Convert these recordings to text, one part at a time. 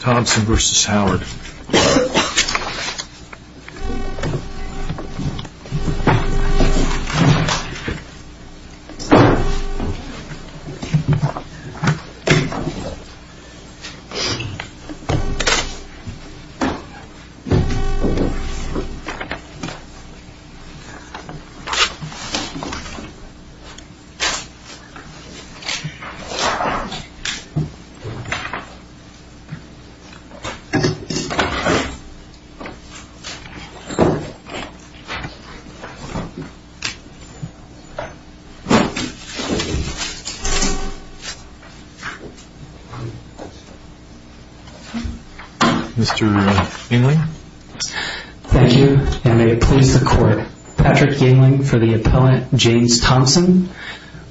Thompson v. Howard Mr. Yingling? Thank you and may it please the court. Patrick Yingling for the appellant James Thompson.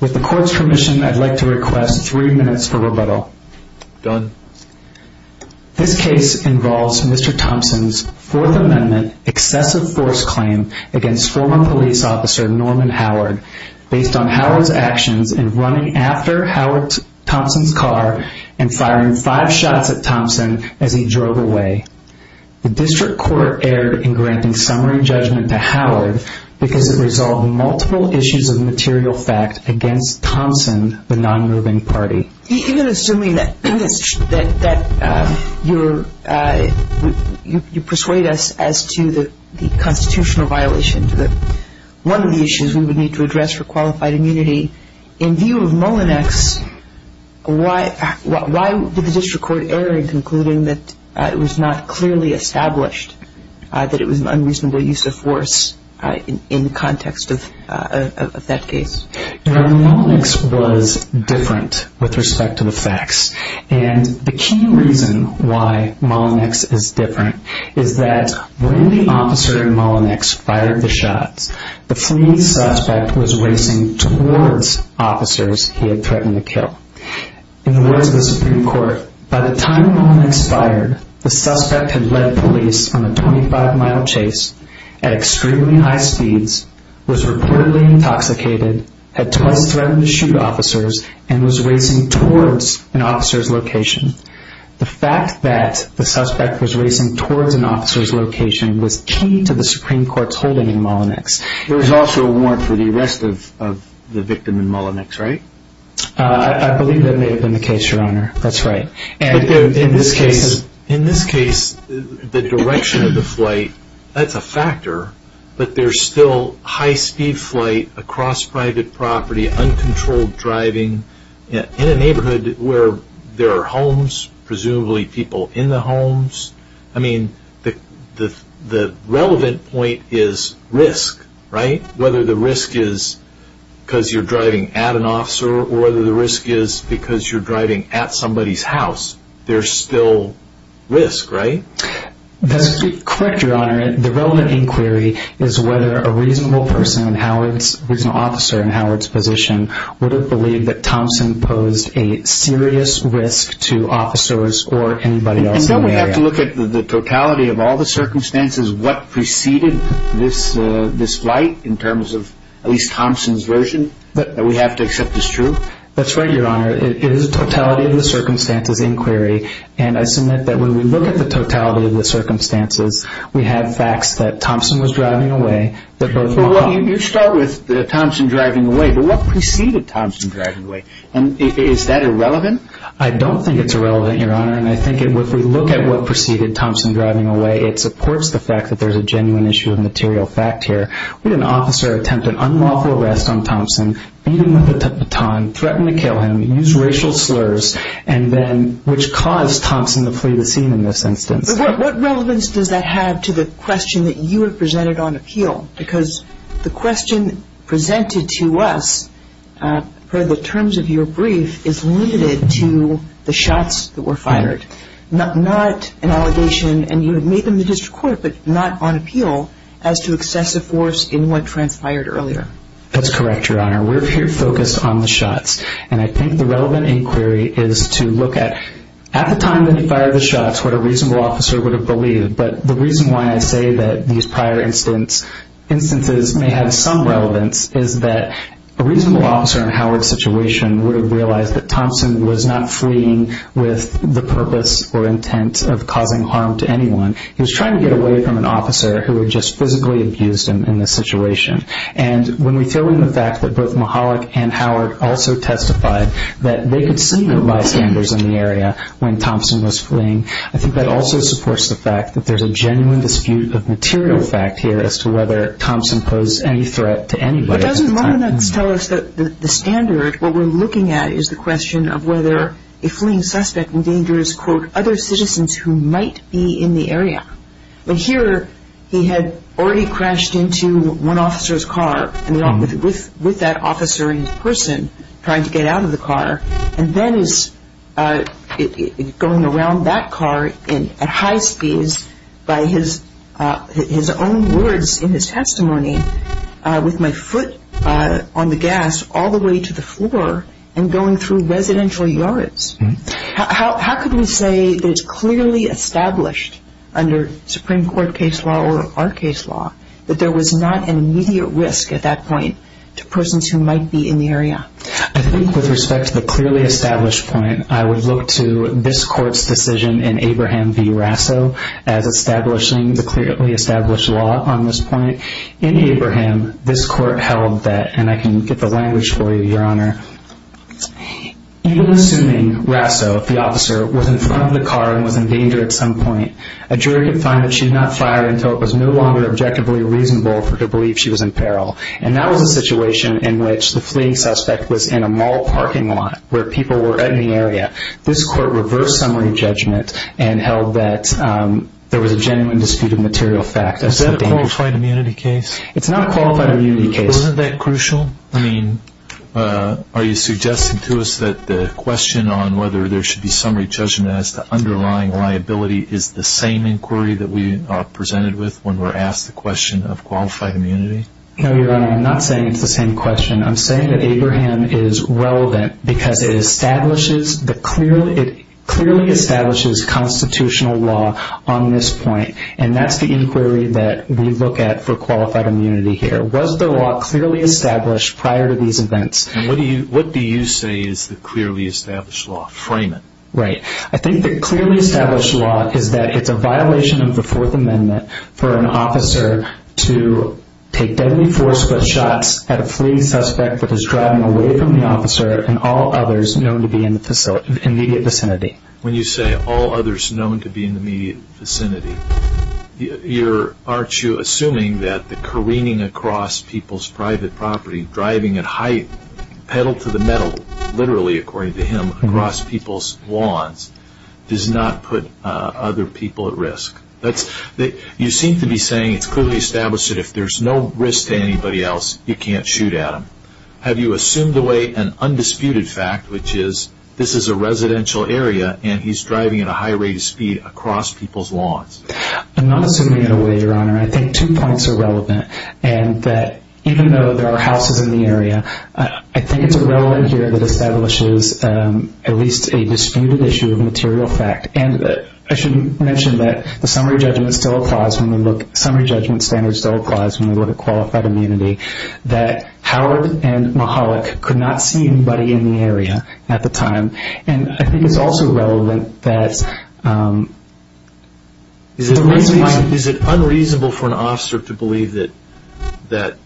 With the court's permission I'd like to request three minutes for rebuttal. This case involves Mr. Thompson's Fourth Amendment excessive force claim against former police officer Norman Howard based on Howard's actions in running after Howard Thompson's car and firing five shots at Thompson as he drove away. The district court erred in granting summary judgment to Howard because it resolved multiple issues of material fact against Thompson, the non-moving party. Even assuming that you persuade us as to the constitutional violation, one of the issues we would need to address for qualified immunity, in view of Mullinex, why did the district court error in concluding that it was not clearly established that it was an unreasonable use of force in the context of that case? The Mullinex was different with respect to the facts and the key reason why Mullinex is different is that when the officer in Mullinex fired the shots, the fleeing suspect was racing towards officers he had threatened to kill. In the words of the Supreme Court, by the time Mullinex fired, the suspect had led police on a 25-mile chase at extremely high speeds, was reportedly intoxicated, had twice threatened to shoot officers, and was racing towards an officer's location. The fact that the suspect was racing towards an officer's location was key to the Supreme Court's holding in Mullinex. There was also a warrant for the arrest of the victim in Mullinex, right? I believe that may have been the case, Your Honor. That's right. In this case, the direction of the flight, that's a factor, but there's still high-speed flight across private property, uncontrolled driving, in a neighborhood where there are homes, presumably people in the homes. I mean, the relevant point is risk, right? Whether the risk is because you're driving at an officer or whether the risk is because you're driving at somebody's house, there's still risk, right? That's correct, Your Honor. The relevant inquiry is whether a reasonable officer in Howard's position would have believed that Thompson posed a serious risk to officers or anybody else in the area. And don't we have to look at the totality of all the circumstances, what preceded this flight, in terms of at least Thompson's version, that we have to accept as true? That's right, Your Honor. It is a totality of the circumstances inquiry, and I submit that when we look at the totality of the circumstances, we have facts that Thompson was driving away, that both were wrong. Well, you start with Thompson driving away, but what preceded Thompson driving away? And is that irrelevant? I don't think it's irrelevant, Your Honor, and I think if we look at what preceded Thompson driving away, it supports the fact that there's a genuine issue of material fact here. Would an officer attempt an unlawful arrest on Thompson, beat him with a baton, threaten to kill him, use racial slurs, which caused Thompson to flee the scene in this instance? What relevance does that have to the question that you have presented on appeal? Because the question presented to us, per the terms of your brief, is limited to the shots that were fired. Not an allegation, and you have made them to district court, but not on appeal, as to excessive force in what transpired earlier. That's correct, Your Honor. We're here focused on the shots, and I think the relevant inquiry is to look at, at the time that he fired the shots, what a reasonable officer would have believed. But the reason why I say that these prior instances may have some relevance is that a reasonable officer in Howard's situation would have realized that Thompson was not fleeing with the purpose or intent of causing harm to anyone. He was trying to get away from an officer who had just physically abused him in this situation. And when we throw in the fact that both Mahalik and Howard also testified that they could see no bystanders in the area when Thompson was fleeing, I think that also supports the fact that there's a genuine dispute of material fact here as to whether Thompson posed any threat to anybody at the time. The evidence tells us that the standard, what we're looking at, is the question of whether a fleeing suspect endangers, quote, other citizens who might be in the area. But here, he had already crashed into one officer's car, with that officer in person, trying to get out of the car, and then is going around that car at high speeds by his own words in his testimony, with my foot on the gas all the way to the floor and going through residential yards. How could we say that it's clearly established under Supreme Court case law or our case law that there was not an immediate risk at that point to persons who might be in the area? I think with respect to the clearly established point, I would look to this court's decision in Abraham v. Rasso as establishing the clearly established law on this point. In Abraham, this court held that, and I can get the language for you, Your Honor, even assuming Rasso, the officer, was in front of the car and was in danger at some point, a jury would find that she had not fired until it was no longer objectively reasonable for her to believe she was in peril. And that was a situation in which the fleeing suspect was in a mall parking lot where people were in the area. This court reversed summary judgment and held that there was a genuine disputed material fact. Is that a qualified immunity case? It's not a qualified immunity case. Wasn't that crucial? I mean, are you suggesting to us that the question on whether there should be summary judgment as to underlying liability is the same inquiry that we are presented with when we're asked the question of qualified immunity? No, Your Honor, I'm not saying it's the same question. I'm saying that Abraham is relevant because it clearly establishes constitutional law on this point, and that's the inquiry that we look at for qualified immunity here. Was the law clearly established prior to these events? And what do you say is the clearly established law? Frame it. Right. I think the clearly established law is that it's a violation of the Fourth Amendment for an officer to take deadly forceful shots at a fleeing suspect that is driving away from the officer and all others known to be in the immediate vicinity. When you say all others known to be in the immediate vicinity, aren't you assuming that the careening across people's private property, driving at height, pedal to the metal, literally according to him, across people's lawns, does not put other people at risk? You seem to be saying it's clearly established that if there's no risk to anybody else, you can't shoot at them. Have you assumed away an undisputed fact, which is this is a residential area and he's driving at a high rate of speed across people's lawns? I'm not assuming it away, Your Honor. I think two points are relevant, and that even though there are houses in the area, I think it's irrelevant here that establishes at least a disputed issue of material fact. I should mention that the summary judgment standard still applies when we look at qualified immunity, that Howard and Mahalik could not see anybody in the area at the time. I think it's also relevant that... I don't think that's unreasonable to believe that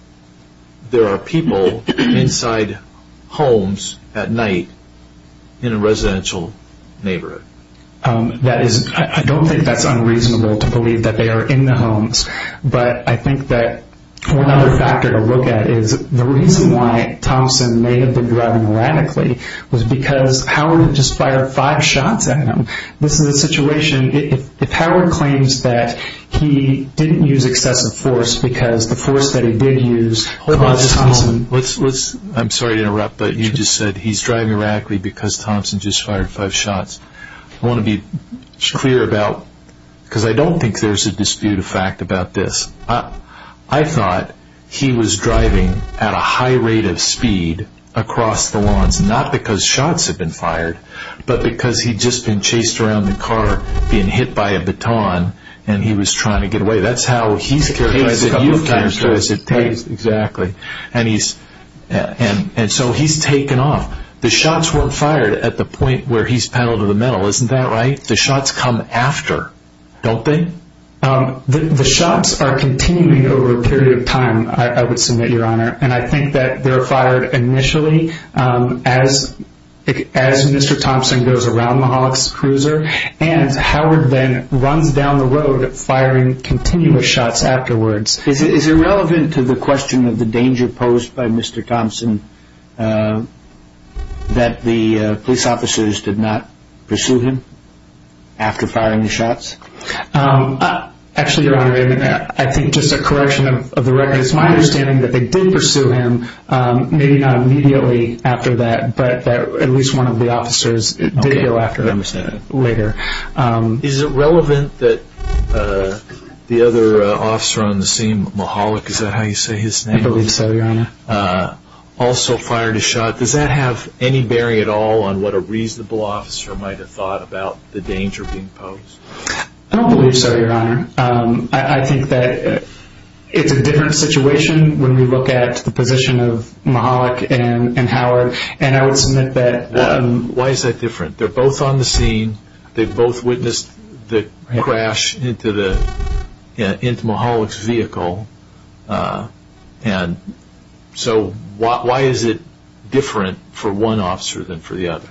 they are in the homes, but I think that one other factor to look at is the reason why Thompson may have been driving radically was because Howard had just fired five shots at him. This is a situation, if Howard claims that he didn't use excessive force because the force that he did use caused Thompson... I'm sorry to interrupt, but you just said he's driving radically because Thompson just fired five shots. I want to be clear about... because I don't think there's a dispute of fact about this. I thought he was driving at a high rate of speed across the lawns, not because shots had been fired, but because he'd just been chased around the car, being hit by a baton, and he was trying to get away. That's how he's characterized and you've characterized it. And so he's taken off. The shots weren't fired at the point where he's paddled to the metal, isn't that right? The shots come after, don't they? The shots are continuing over a period of time, I would submit, Your Honor, and I think that they're fired initially as Mr. Thompson goes around Mahalik's cruiser and Howard then runs down the road firing continuous shots afterwards. Is it relevant to the question of the danger posed by Mr. Thompson that the police officers did not pursue him after firing the shots? Actually, Your Honor, I think just a correction of the record. It's my understanding that they did pursue him, maybe not immediately after that, but at least one of the officers did go after him later. Is it relevant that the other officer on the scene, Mahalik, is that how you say his name? I believe so, Your Honor. Also fired a shot. Does that have any bearing at all on what a reasonable officer might have thought about the danger being posed? I don't believe so, Your Honor. I think that it's a different situation when we look at the position of Mahalik and Howard, and I would submit that... Why is that different? They're both on the scene. They both witnessed the crash into Mahalik's vehicle. So why is it different for one officer than for the other?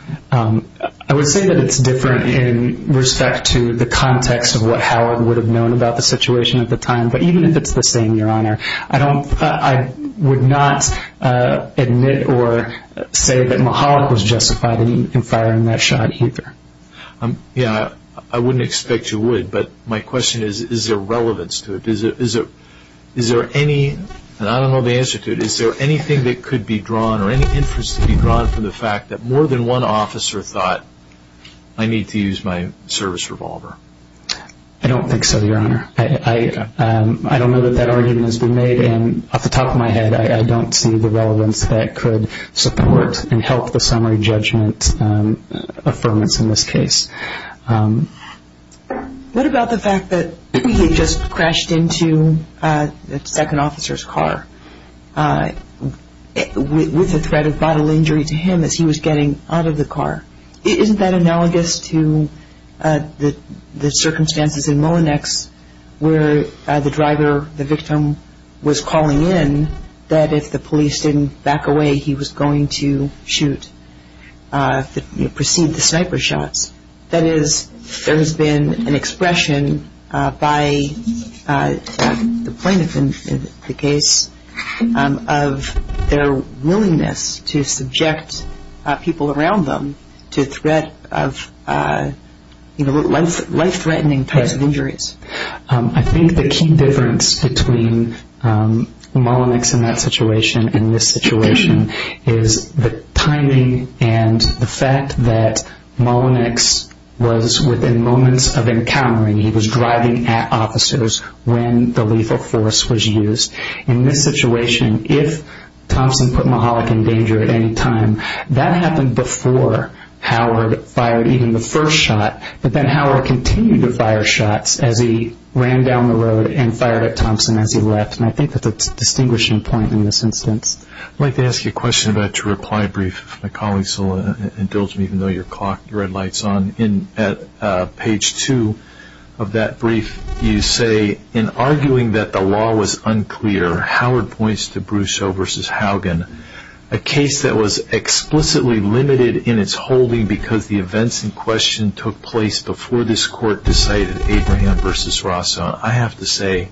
I would say that it's different in respect to the context of what Howard would have known about the situation at the time, but even if it's the same, Your Honor, I would not admit or say that Mahalik was justified in firing that shot either. I wouldn't expect you would, but my question is, is there relevance to it? I don't know the answer to it. Is there anything that could be drawn or any interest to be drawn from the fact that more than one officer thought, I need to use my service revolver? I don't think so, Your Honor. I don't know that that argument has been made, and off the top of my head, I don't see the relevance that could support and help the summary judgment affirmance in this case. What about the fact that he had just crashed into the second officer's car with a threat of bodily injury to him as he was getting out of the car? Isn't that analogous to the circumstances in Molinex where the driver, the victim, was calling in that if the police didn't back away, he was going to shoot, proceed the sniper shots? That is, there has been an expression by the plaintiff in the case of their willingness to subject people around them to threat of life-threatening types of injuries. I think the key difference between Molinex in that situation and this situation is the timing and the fact that Molinex was within moments of encountering, he was driving at officers when the lethal force was used. In this situation, if Thompson put Mahalik in danger at any time, that happened before Howard fired even the first shot, but then Howard continued to fire shots as he ran down the road and fired at Thompson as he left, and I think that's a distinguishing point in this instance. I'd like to ask you a question about your reply brief. My colleagues will indulge me even though your red light is on. In page 2 of that brief, you say, in arguing that the law was unclear, Howard points to Brusso v. Haugen, a case that was explicitly limited in its holding because the events in question took place before this court decided Abraham v. Rosso. I have to say,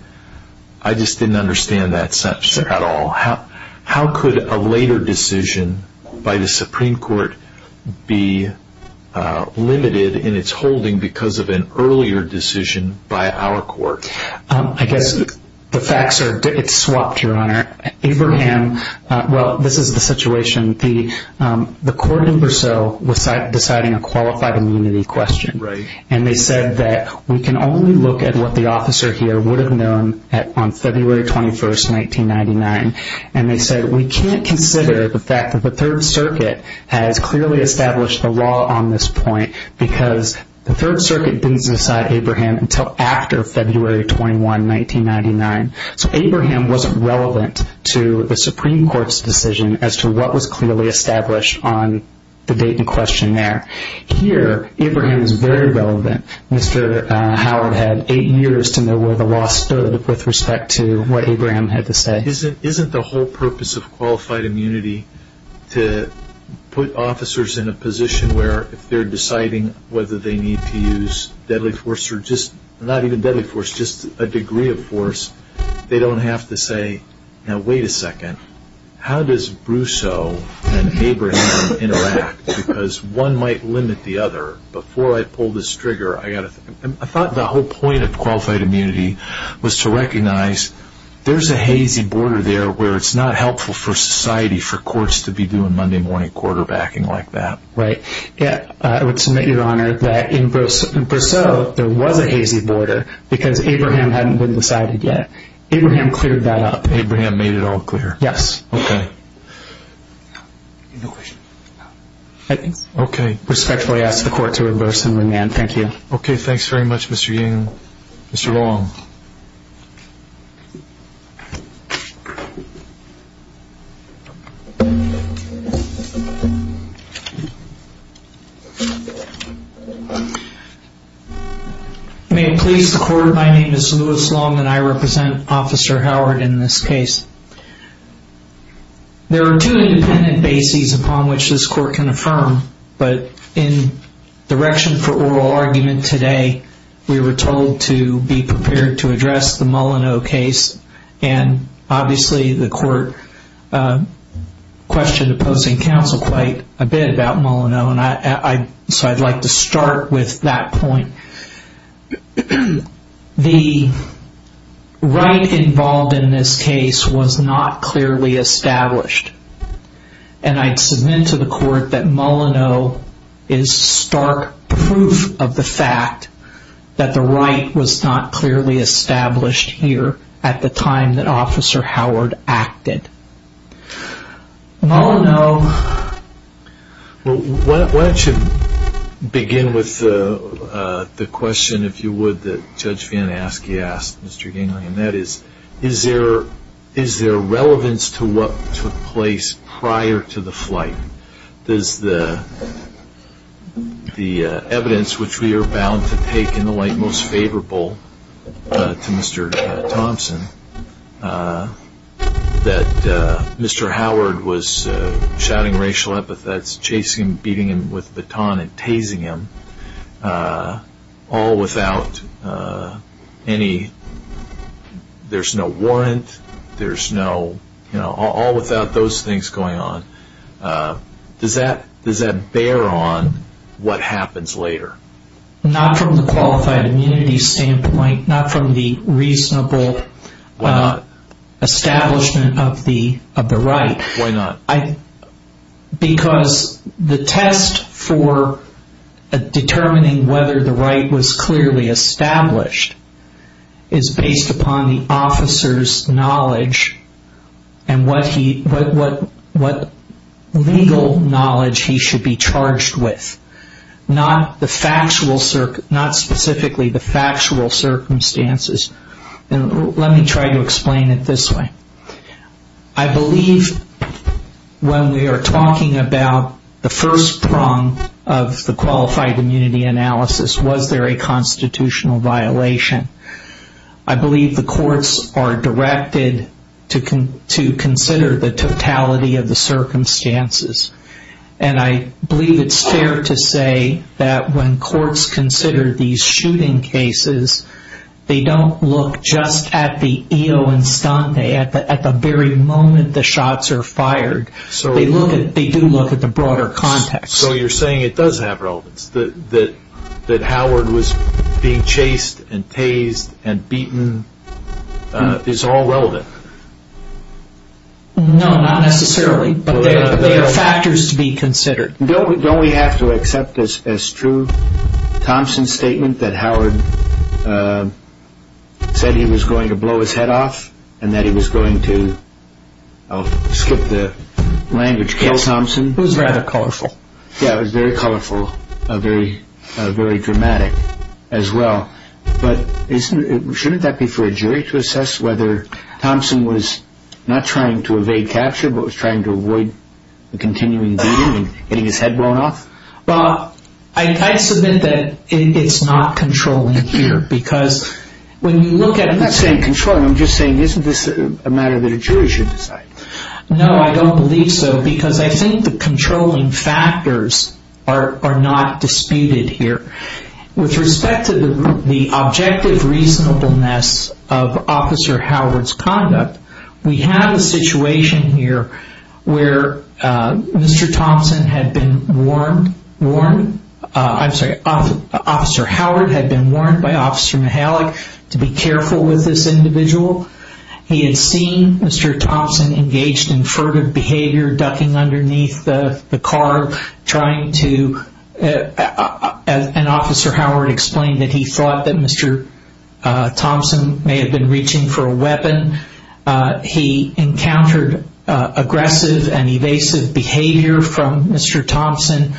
I just didn't understand that sentence at all. How could a later decision by the Supreme Court be limited in its holding because of an earlier decision by our court? I guess the facts are, it's swapped, Your Honor. Abraham, well, this is the situation. The court in Brusso was deciding a qualified immunity question, and they said that we can only look at what the officer here would have known on February 21, 1999, and they said we can't consider the fact that the Third Circuit has clearly established the law on this point because the Third Circuit didn't decide Abraham until after February 21, 1999. So Abraham wasn't relevant to the Supreme Court's decision as to what was clearly established on the date in question there. Here, Abraham is very relevant. Mr. Howard had eight years to know where the law stood with respect to what Abraham had to say. Isn't the whole purpose of qualified immunity to put officers in a position where if they're deciding whether they need to use deadly force or just, not even deadly force, just a degree of force, they don't have to say, now, wait a second, how does Brusso and Abraham interact? Because one might limit the other. Before I pull this trigger, I thought the whole point of qualified immunity was to recognize there's a hazy border there where it's not helpful for society for courts to be doing Monday morning quarterbacking like that. Right. I would submit, Your Honor, that in Brusso, there was a hazy border because Abraham hadn't been decided yet. Abraham cleared that up. Abraham made it all clear. Yes. Okay. Okay. Respectfully ask the court to reverse and remand. Thank you. Okay. Thanks very much, Mr. Ying. Mr. Long. May it please the court, my name is Louis Long and I represent Officer Howard in this case. There are two independent bases upon which this court can affirm, but in direction for oral argument today, we were told to be prepared to address the Mullineaux case. Obviously, the court questioned opposing counsel quite a bit about Mullineaux, so I'd like to start with that point. The right involved in this case was not clearly established, and I'd submit to the court that Mullineaux is stark proof of the fact that the right was not clearly established here at the time that Officer Howard acted. Mullineaux. Why don't you begin with the question, if you would, that Judge Van Aske asked Mr. Gingley, and that is, is there relevance to what took place prior to the flight? There's the evidence which we are bound to take in the light most favorable to Mr. Thompson, that Mr. Howard was shouting racial epithets, chasing him, beating him with a baton and tasing him, all without any, there's no warrant, there's no, you know, all without those things going on. Does that bear on what happens later? Not from the qualified immunity standpoint, not from the reasonable establishment of the right. Why not? Because the test for determining whether the right was clearly established is based upon the officer's knowledge and what he, what legal knowledge he should be charged with. Not the factual, not specifically the factual circumstances. Let me try to explain it this way. I believe when we are talking about the first prong of the qualified immunity analysis, was there a constitutional violation? I believe the courts are directed to consider the totality of the circumstances. And I believe it's fair to say that when courts consider these shooting cases, they don't look just at the EO and stun, at the very moment the shots are fired. They look at, they do look at the broader context. So you're saying it does have relevance, that Howard was being chased and tased and beaten is all relevant? No, not necessarily, but there are factors to be considered. Don't we have to accept this as true? Thompson's statement that Howard said he was going to blow his head off and that he was going to, I'll skip the language, kill Thompson. It was rather colorful. Yeah, it was very colorful, very dramatic as well. But shouldn't that be for a jury to assess whether Thompson was not trying to evade capture, but was trying to avoid the continuing beating and getting his head blown off? Well, I submit that it's not controlling here, because when you look at... I'm not saying controlling, I'm just saying isn't this a matter that a jury should decide? No, I don't believe so, because I think the controlling factors are not disputed here. With respect to the objective reasonableness of Officer Howard's conduct, we have a situation here where Mr. Thompson had been warned, I'm sorry, Officer Howard had been warned by Officer Mihalik to be careful with this individual. He had seen Mr. Thompson engaged in furtive behavior, ducking underneath the car, trying to... And Officer Howard explained that he thought that Mr. Thompson may have been reaching for a weapon. He encountered aggressive and evasive behavior from Mr. Thompson.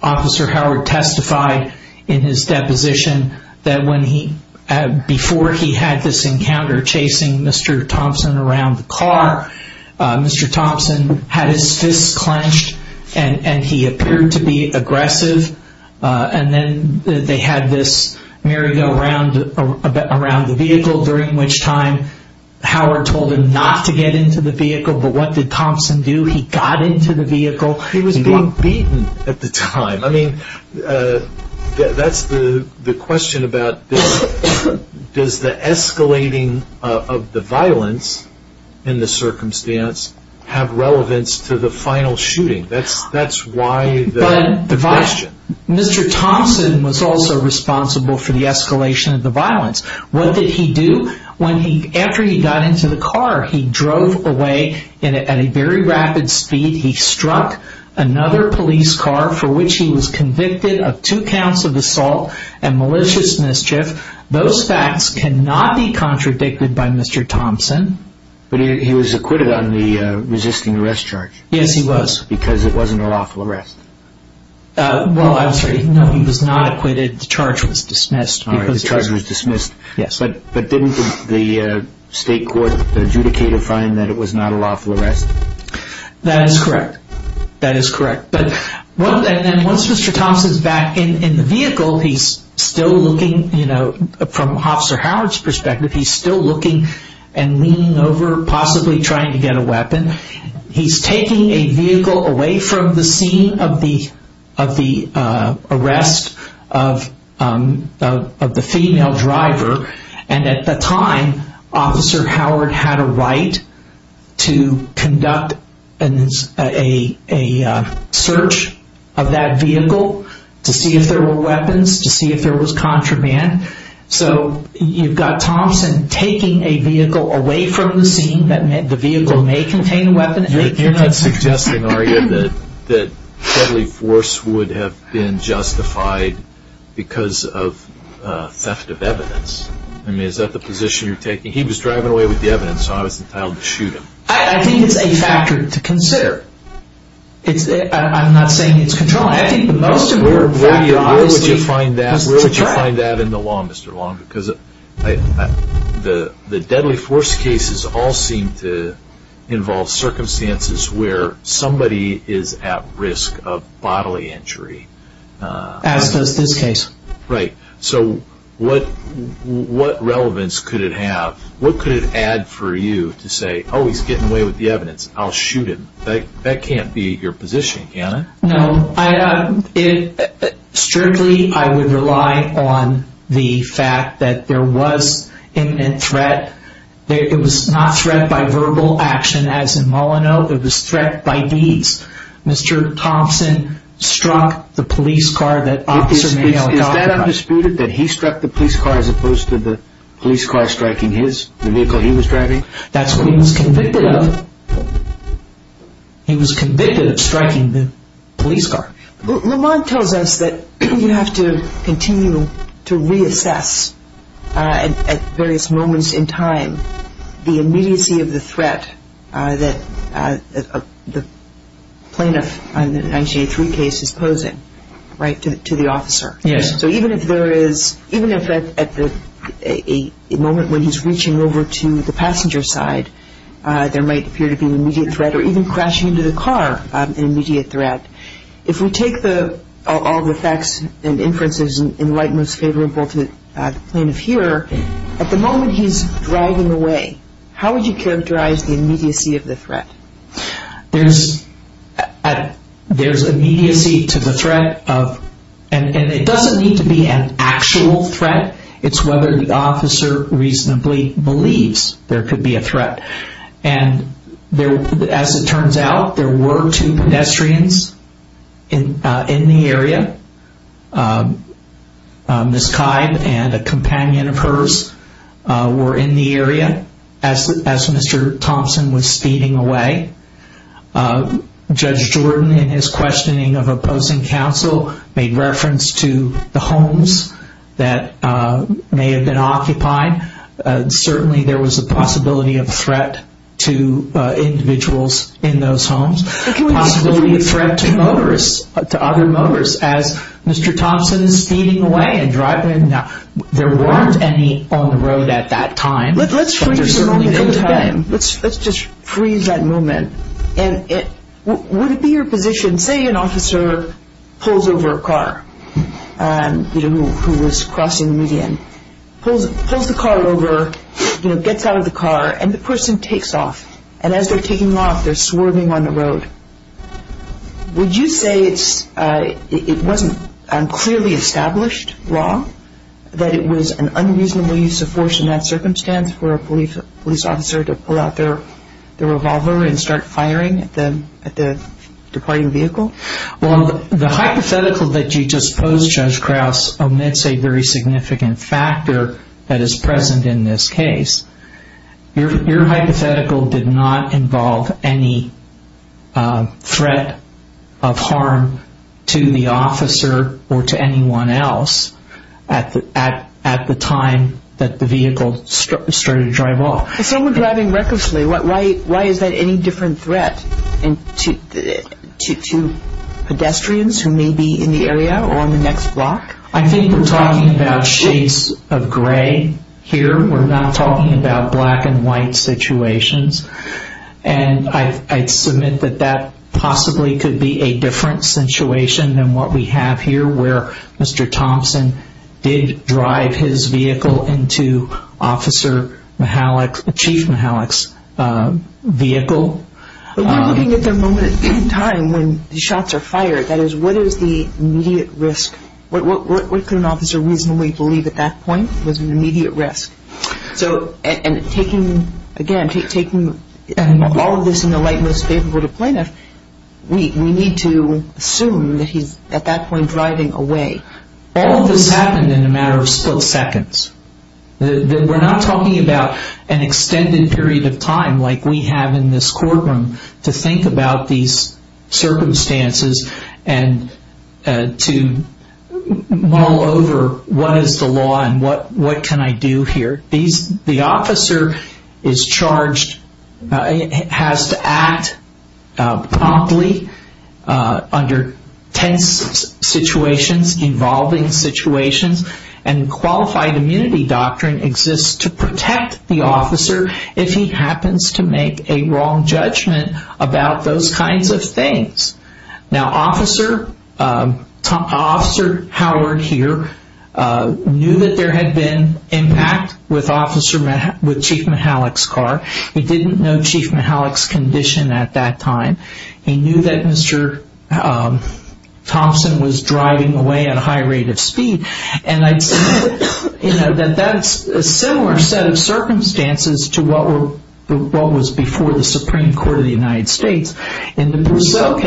Officer Howard testified in his deposition that before he had this encounter chasing Mr. Thompson around the car, Mr. Thompson had his fists clenched and he appeared to be aggressive. And then they had this merry-go-round around the vehicle, during which time Howard told him not to get into the vehicle. But what did Thompson do? He got into the vehicle. He was being beaten at the time. I mean, that's the question about this. Does the escalating of the violence in the circumstance have relevance to the final shooting? That's why the question. But Mr. Thompson was also responsible for the escalation of the violence. What did he do? After he got into the car, he drove away at a very rapid speed. He struck another police car, for which he was convicted of two counts of assault and malicious mischief. Those facts cannot be contradicted by Mr. Thompson. But he was acquitted on the resisting arrest charge? Yes, he was. Because it wasn't a lawful arrest? Well, I'm sorry. No, he was not acquitted. The charge was dismissed. But didn't the state court adjudicate a fine that it was not a lawful arrest? That is correct. Once Mr. Thompson is back in the vehicle, he's still looking from Officer Howard's perspective, he's still looking and leaning over, possibly trying to get a weapon. He's taking a vehicle away from the scene of the arrest of the female driver, and at the time, Officer Howard had a right to conduct a search of that vehicle to see if there were weapons, to see if there was contraband. So you've got Thompson taking a vehicle away from the scene that meant the vehicle may contain a weapon. You're not suggesting, are you, that deadly force would have been justified because of theft of evidence? I mean, is that the position you're taking? He was driving away with the evidence, so I was entitled to shoot him. I think it's a factor to consider. I'm not saying it's controlling. Where would you find that in the law, Mr. Long? Because the deadly force cases all seem to involve circumstances where somebody is at risk of bodily injury. As does this case. Right. So what relevance could it have? What could it add for you to say, oh, he's getting away with the evidence, I'll shoot him. That can't be your position, can it? No. Strictly, I would rely on the fact that there was imminent threat. It was not threat by verbal action, as in Molyneux. It was threat by deeds. Mr. Thompson struck the police car that Officer Mayo had gotten in. Is that undisputed, that he struck the police car as opposed to the police car striking his, the vehicle he was driving? That's what he was convicted of. He was convicted of striking the police car. Lamont tells us that you have to continue to reassess at various moments in time, the immediacy of the threat that the plaintiff in the 1983 case is posing to the officer. Yes. So even if there is, even if at the moment when he's reaching over to the passenger side, there might appear to be an immediate threat, or even crashing into the car, an immediate threat, if we take all the facts and inferences in light most favorable to the plaintiff here, at the moment he's driving away, how would you characterize the immediacy of the threat? There's immediacy to the threat of, and it doesn't need to be an actual threat. It's whether the officer reasonably believes there could be a threat. And as it turns out, there were two pedestrians in the area. Ms. Kyde and a companion of hers were in the area as Mr. Thompson was speeding away. Judge Jordan, in his questioning of opposing counsel, made reference to the homes that may have been occupied. Certainly there was a possibility of threat to individuals in those homes. Possibility of threat to motorists, to other motorists, as Mr. Thompson is speeding away and driving. Now, there weren't any on the road at that time. Let's just freeze that moment. And would it be your position, say an officer pulls over a car, you know, who was crossing median, pulls the car over, you know, gets out of the car, and the person takes off. And as they're taking off, they're swerving on the road. Would you say it wasn't a clearly established law that it was an unreasonable use of force in that circumstance for a police officer to pull out their revolver and start firing at the departing vehicle? Well, the hypothetical that you just posed, Judge Krauss, omits a very significant factor that is present in this case. Your hypothetical did not involve any threat of harm to the officer or to anyone else at the time that the vehicle started to drive off. If someone was driving recklessly, why is that any different threat to pedestrians who may be in the area or on the next block? I think we're talking about shades of gray here. We're not talking about black and white situations. And I submit that that possibly could be a different situation than what we have here where Mr. Thompson did drive his vehicle into Officer Mihalik, Chief Mihalik's vehicle. But we're looking at the moment in time when the shots are fired. That is, what is the immediate risk? What could an officer reasonably believe at that point was an immediate risk? And taking, again, taking all of this in the light most favorable to plaintiff, we need to assume that he's at that point driving away. All of this happened in a matter of split seconds. We're not talking about an extended period of time like we have in this courtroom to think about these circumstances and to mull over what is the law and what can I do here. The officer is charged, has to act promptly under tense situations, involving situations, and qualified immunity doctrine exists to protect the officer if he happens to make a wrong judgment about those kinds of things. Now Officer Howard here knew that there had been impact with Chief Mihalik's car. He didn't know Chief Mihalik's condition at that time. He knew that Mr. Thompson was driving away at a high rate of speed. And that's a similar set of circumstances to what was before the Supreme Court of the United States. In the Brousseau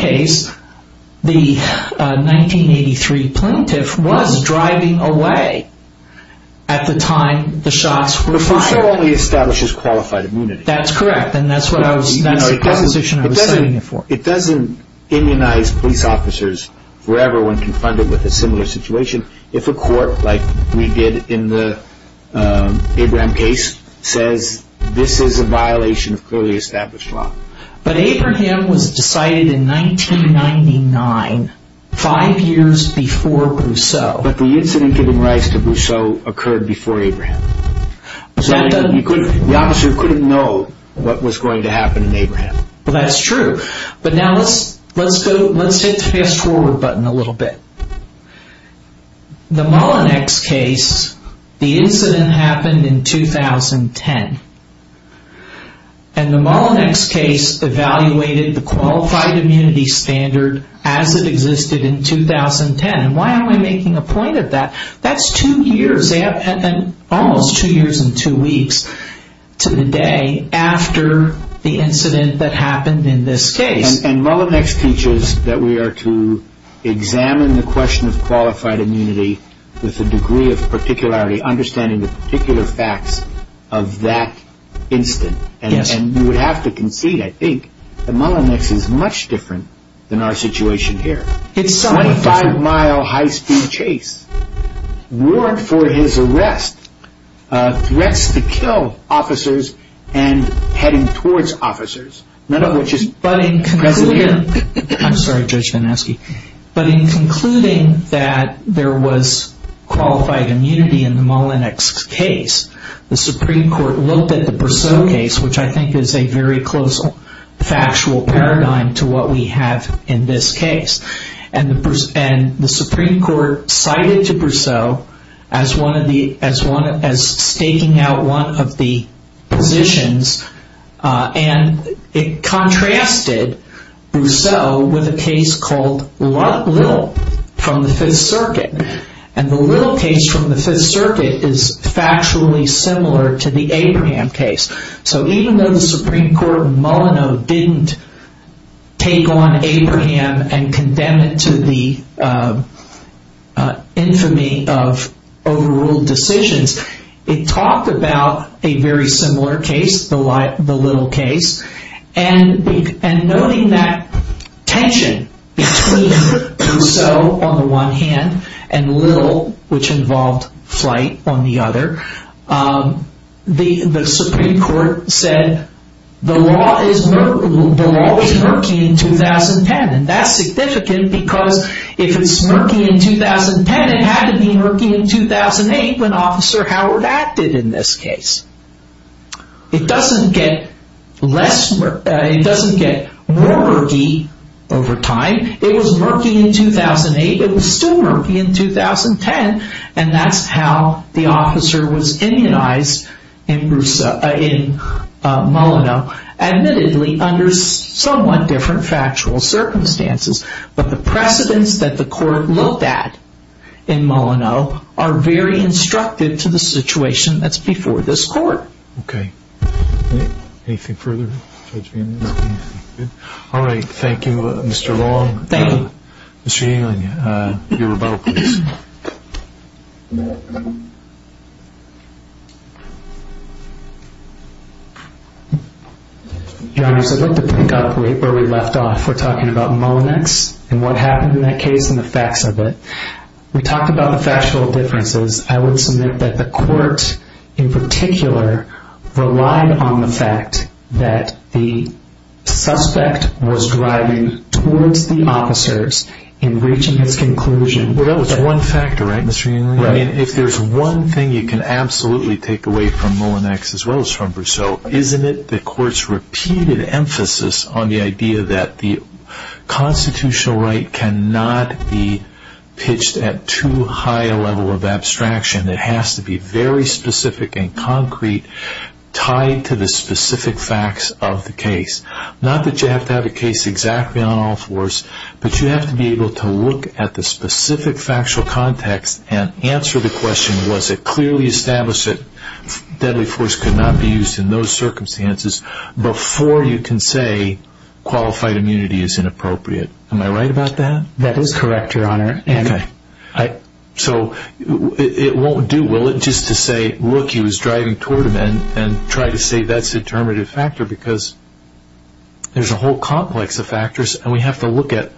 case, the 1983 plaintiff was driving away at the time the shots were fired. But Brousseau only establishes qualified immunity. That's correct, and that's the proposition I was citing it for. It doesn't immunize police officers forever when confronted with a similar situation. If a court, like we did in the Abraham case, says this is a violation of clearly established law. But Abraham was decided in 1999, five years before Brousseau. But the incident giving rise to Brousseau occurred before Abraham. The officer couldn't know what was going to happen in Abraham. That's true. But now let's hit the fast forward button a little bit. The Mullinex case, the incident happened in 2010. And the Mullinex case evaluated the qualified immunity standard as it existed in 2010. Why am I making a point of that? That's two years, almost two years and two weeks to the day after the incident that happened in this case. And Mullinex teaches that we are to examine the question of qualified immunity with a degree of particularity, understanding the particular facts of that incident. And you would have to concede, I think, that Mullinex is much different than our situation here. 25 mile high speed chase, warrant for his arrest, threats to kill officers and heading towards officers. None of which is precedent. I'm sorry, Judge Vanosky. But in concluding that there was qualified immunity in the Mullinex case, the Supreme Court looked at the Brousseau case, which I think is a very close factual paradigm to what we have in this case. And the Supreme Court cited to Brousseau as staking out one of the positions. And it contrasted Brousseau with a case called Little from the Fifth Circuit. And the Little case from the Fifth Circuit is factually similar to the Abraham case. So even though the Supreme Court of Mullineaux didn't take on Abraham and condemn it to the infamy of overruled decisions, it talked about a very similar case, the Little case. And noting that tension between Brousseau on the one hand and Little, which involved flight on the other, the Supreme Court said the law is murky in 2010. And that's significant because if it's murky in 2010, it had to be murky in 2008 when Officer Howard acted in this case. It doesn't get more murky over time. It was murky in 2008. It was still murky in 2010. And that's how the officer was immunized in Mullineaux, admittedly under somewhat different factual circumstances. But the precedents that the court looked at in Mullineaux are very instructive to the situation that's before this court. Okay. Anything further? All right. Thank you, Mr. Long. Mr. Ewing, your rebuttal, please. Your Honors, I'd like to pick up where we left off. We're talking about Mullineaux and what happened in that case and the facts of it. We talked about the factual differences. I would submit that the court in particular relied on the fact that the suspect was driving towards the officers in reaching his conclusion. Well, that was one factor, right, Mr. Ewing? Right. If there's one thing you can absolutely take away from Mullineaux as well as from Brousseau, isn't it the court's repeated emphasis on the idea that the constitutional right cannot be pitched at too high a level of abstraction. It has to be very specific and concrete, tied to the specific facts of the case. Not that you have to have a case exactly on all fours, but you have to be able to look at the specific factual context and answer the question, was it clearly established that deadly force could not be used in those circumstances, before you can say qualified immunity is inappropriate. Am I right about that? That is correct, Your Honor. Okay. So it won't do, will it, just to say, look, he was driving toward him and try to say that's a determinative factor because there's a whole complex of factors and we have to look at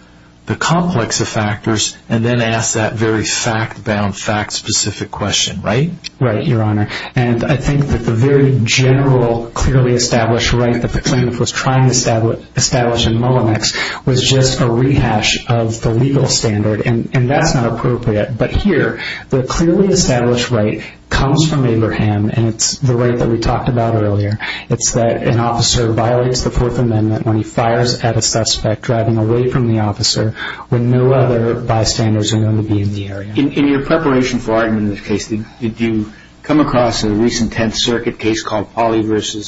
the complex of factors and then ask that very fact-bound, fact-specific question, right? Right, Your Honor. And I think that the very general, clearly established right that the plaintiff was trying to establish in Mullinex was just a rehash of the legal standard, and that's not appropriate. But here, the clearly established right comes from Abraham and it's the right that we talked about earlier. It's that an officer violates the Fourth Amendment when he fires at a suspect driving away from the officer when no other bystanders are known to be in the area. In your preparation for arguing this case, did you come across a recent Tenth Circuit case called Polley v.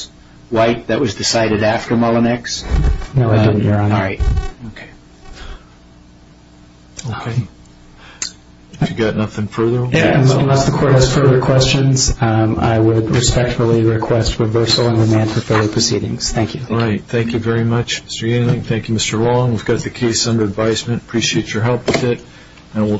White that was decided after Mullinex? No, I didn't, Your Honor. All right. Okay. Okay. If you've got nothing further, we'll move on. Unless the Court has further questions, I would respectfully request reversal and remand for further proceedings. Thank you. All right. Thank you very much, Mr. Ewing. Thank you, Mr. Long. We've got the case under advisement. Appreciate your help with it. And we'll turn to our next witness.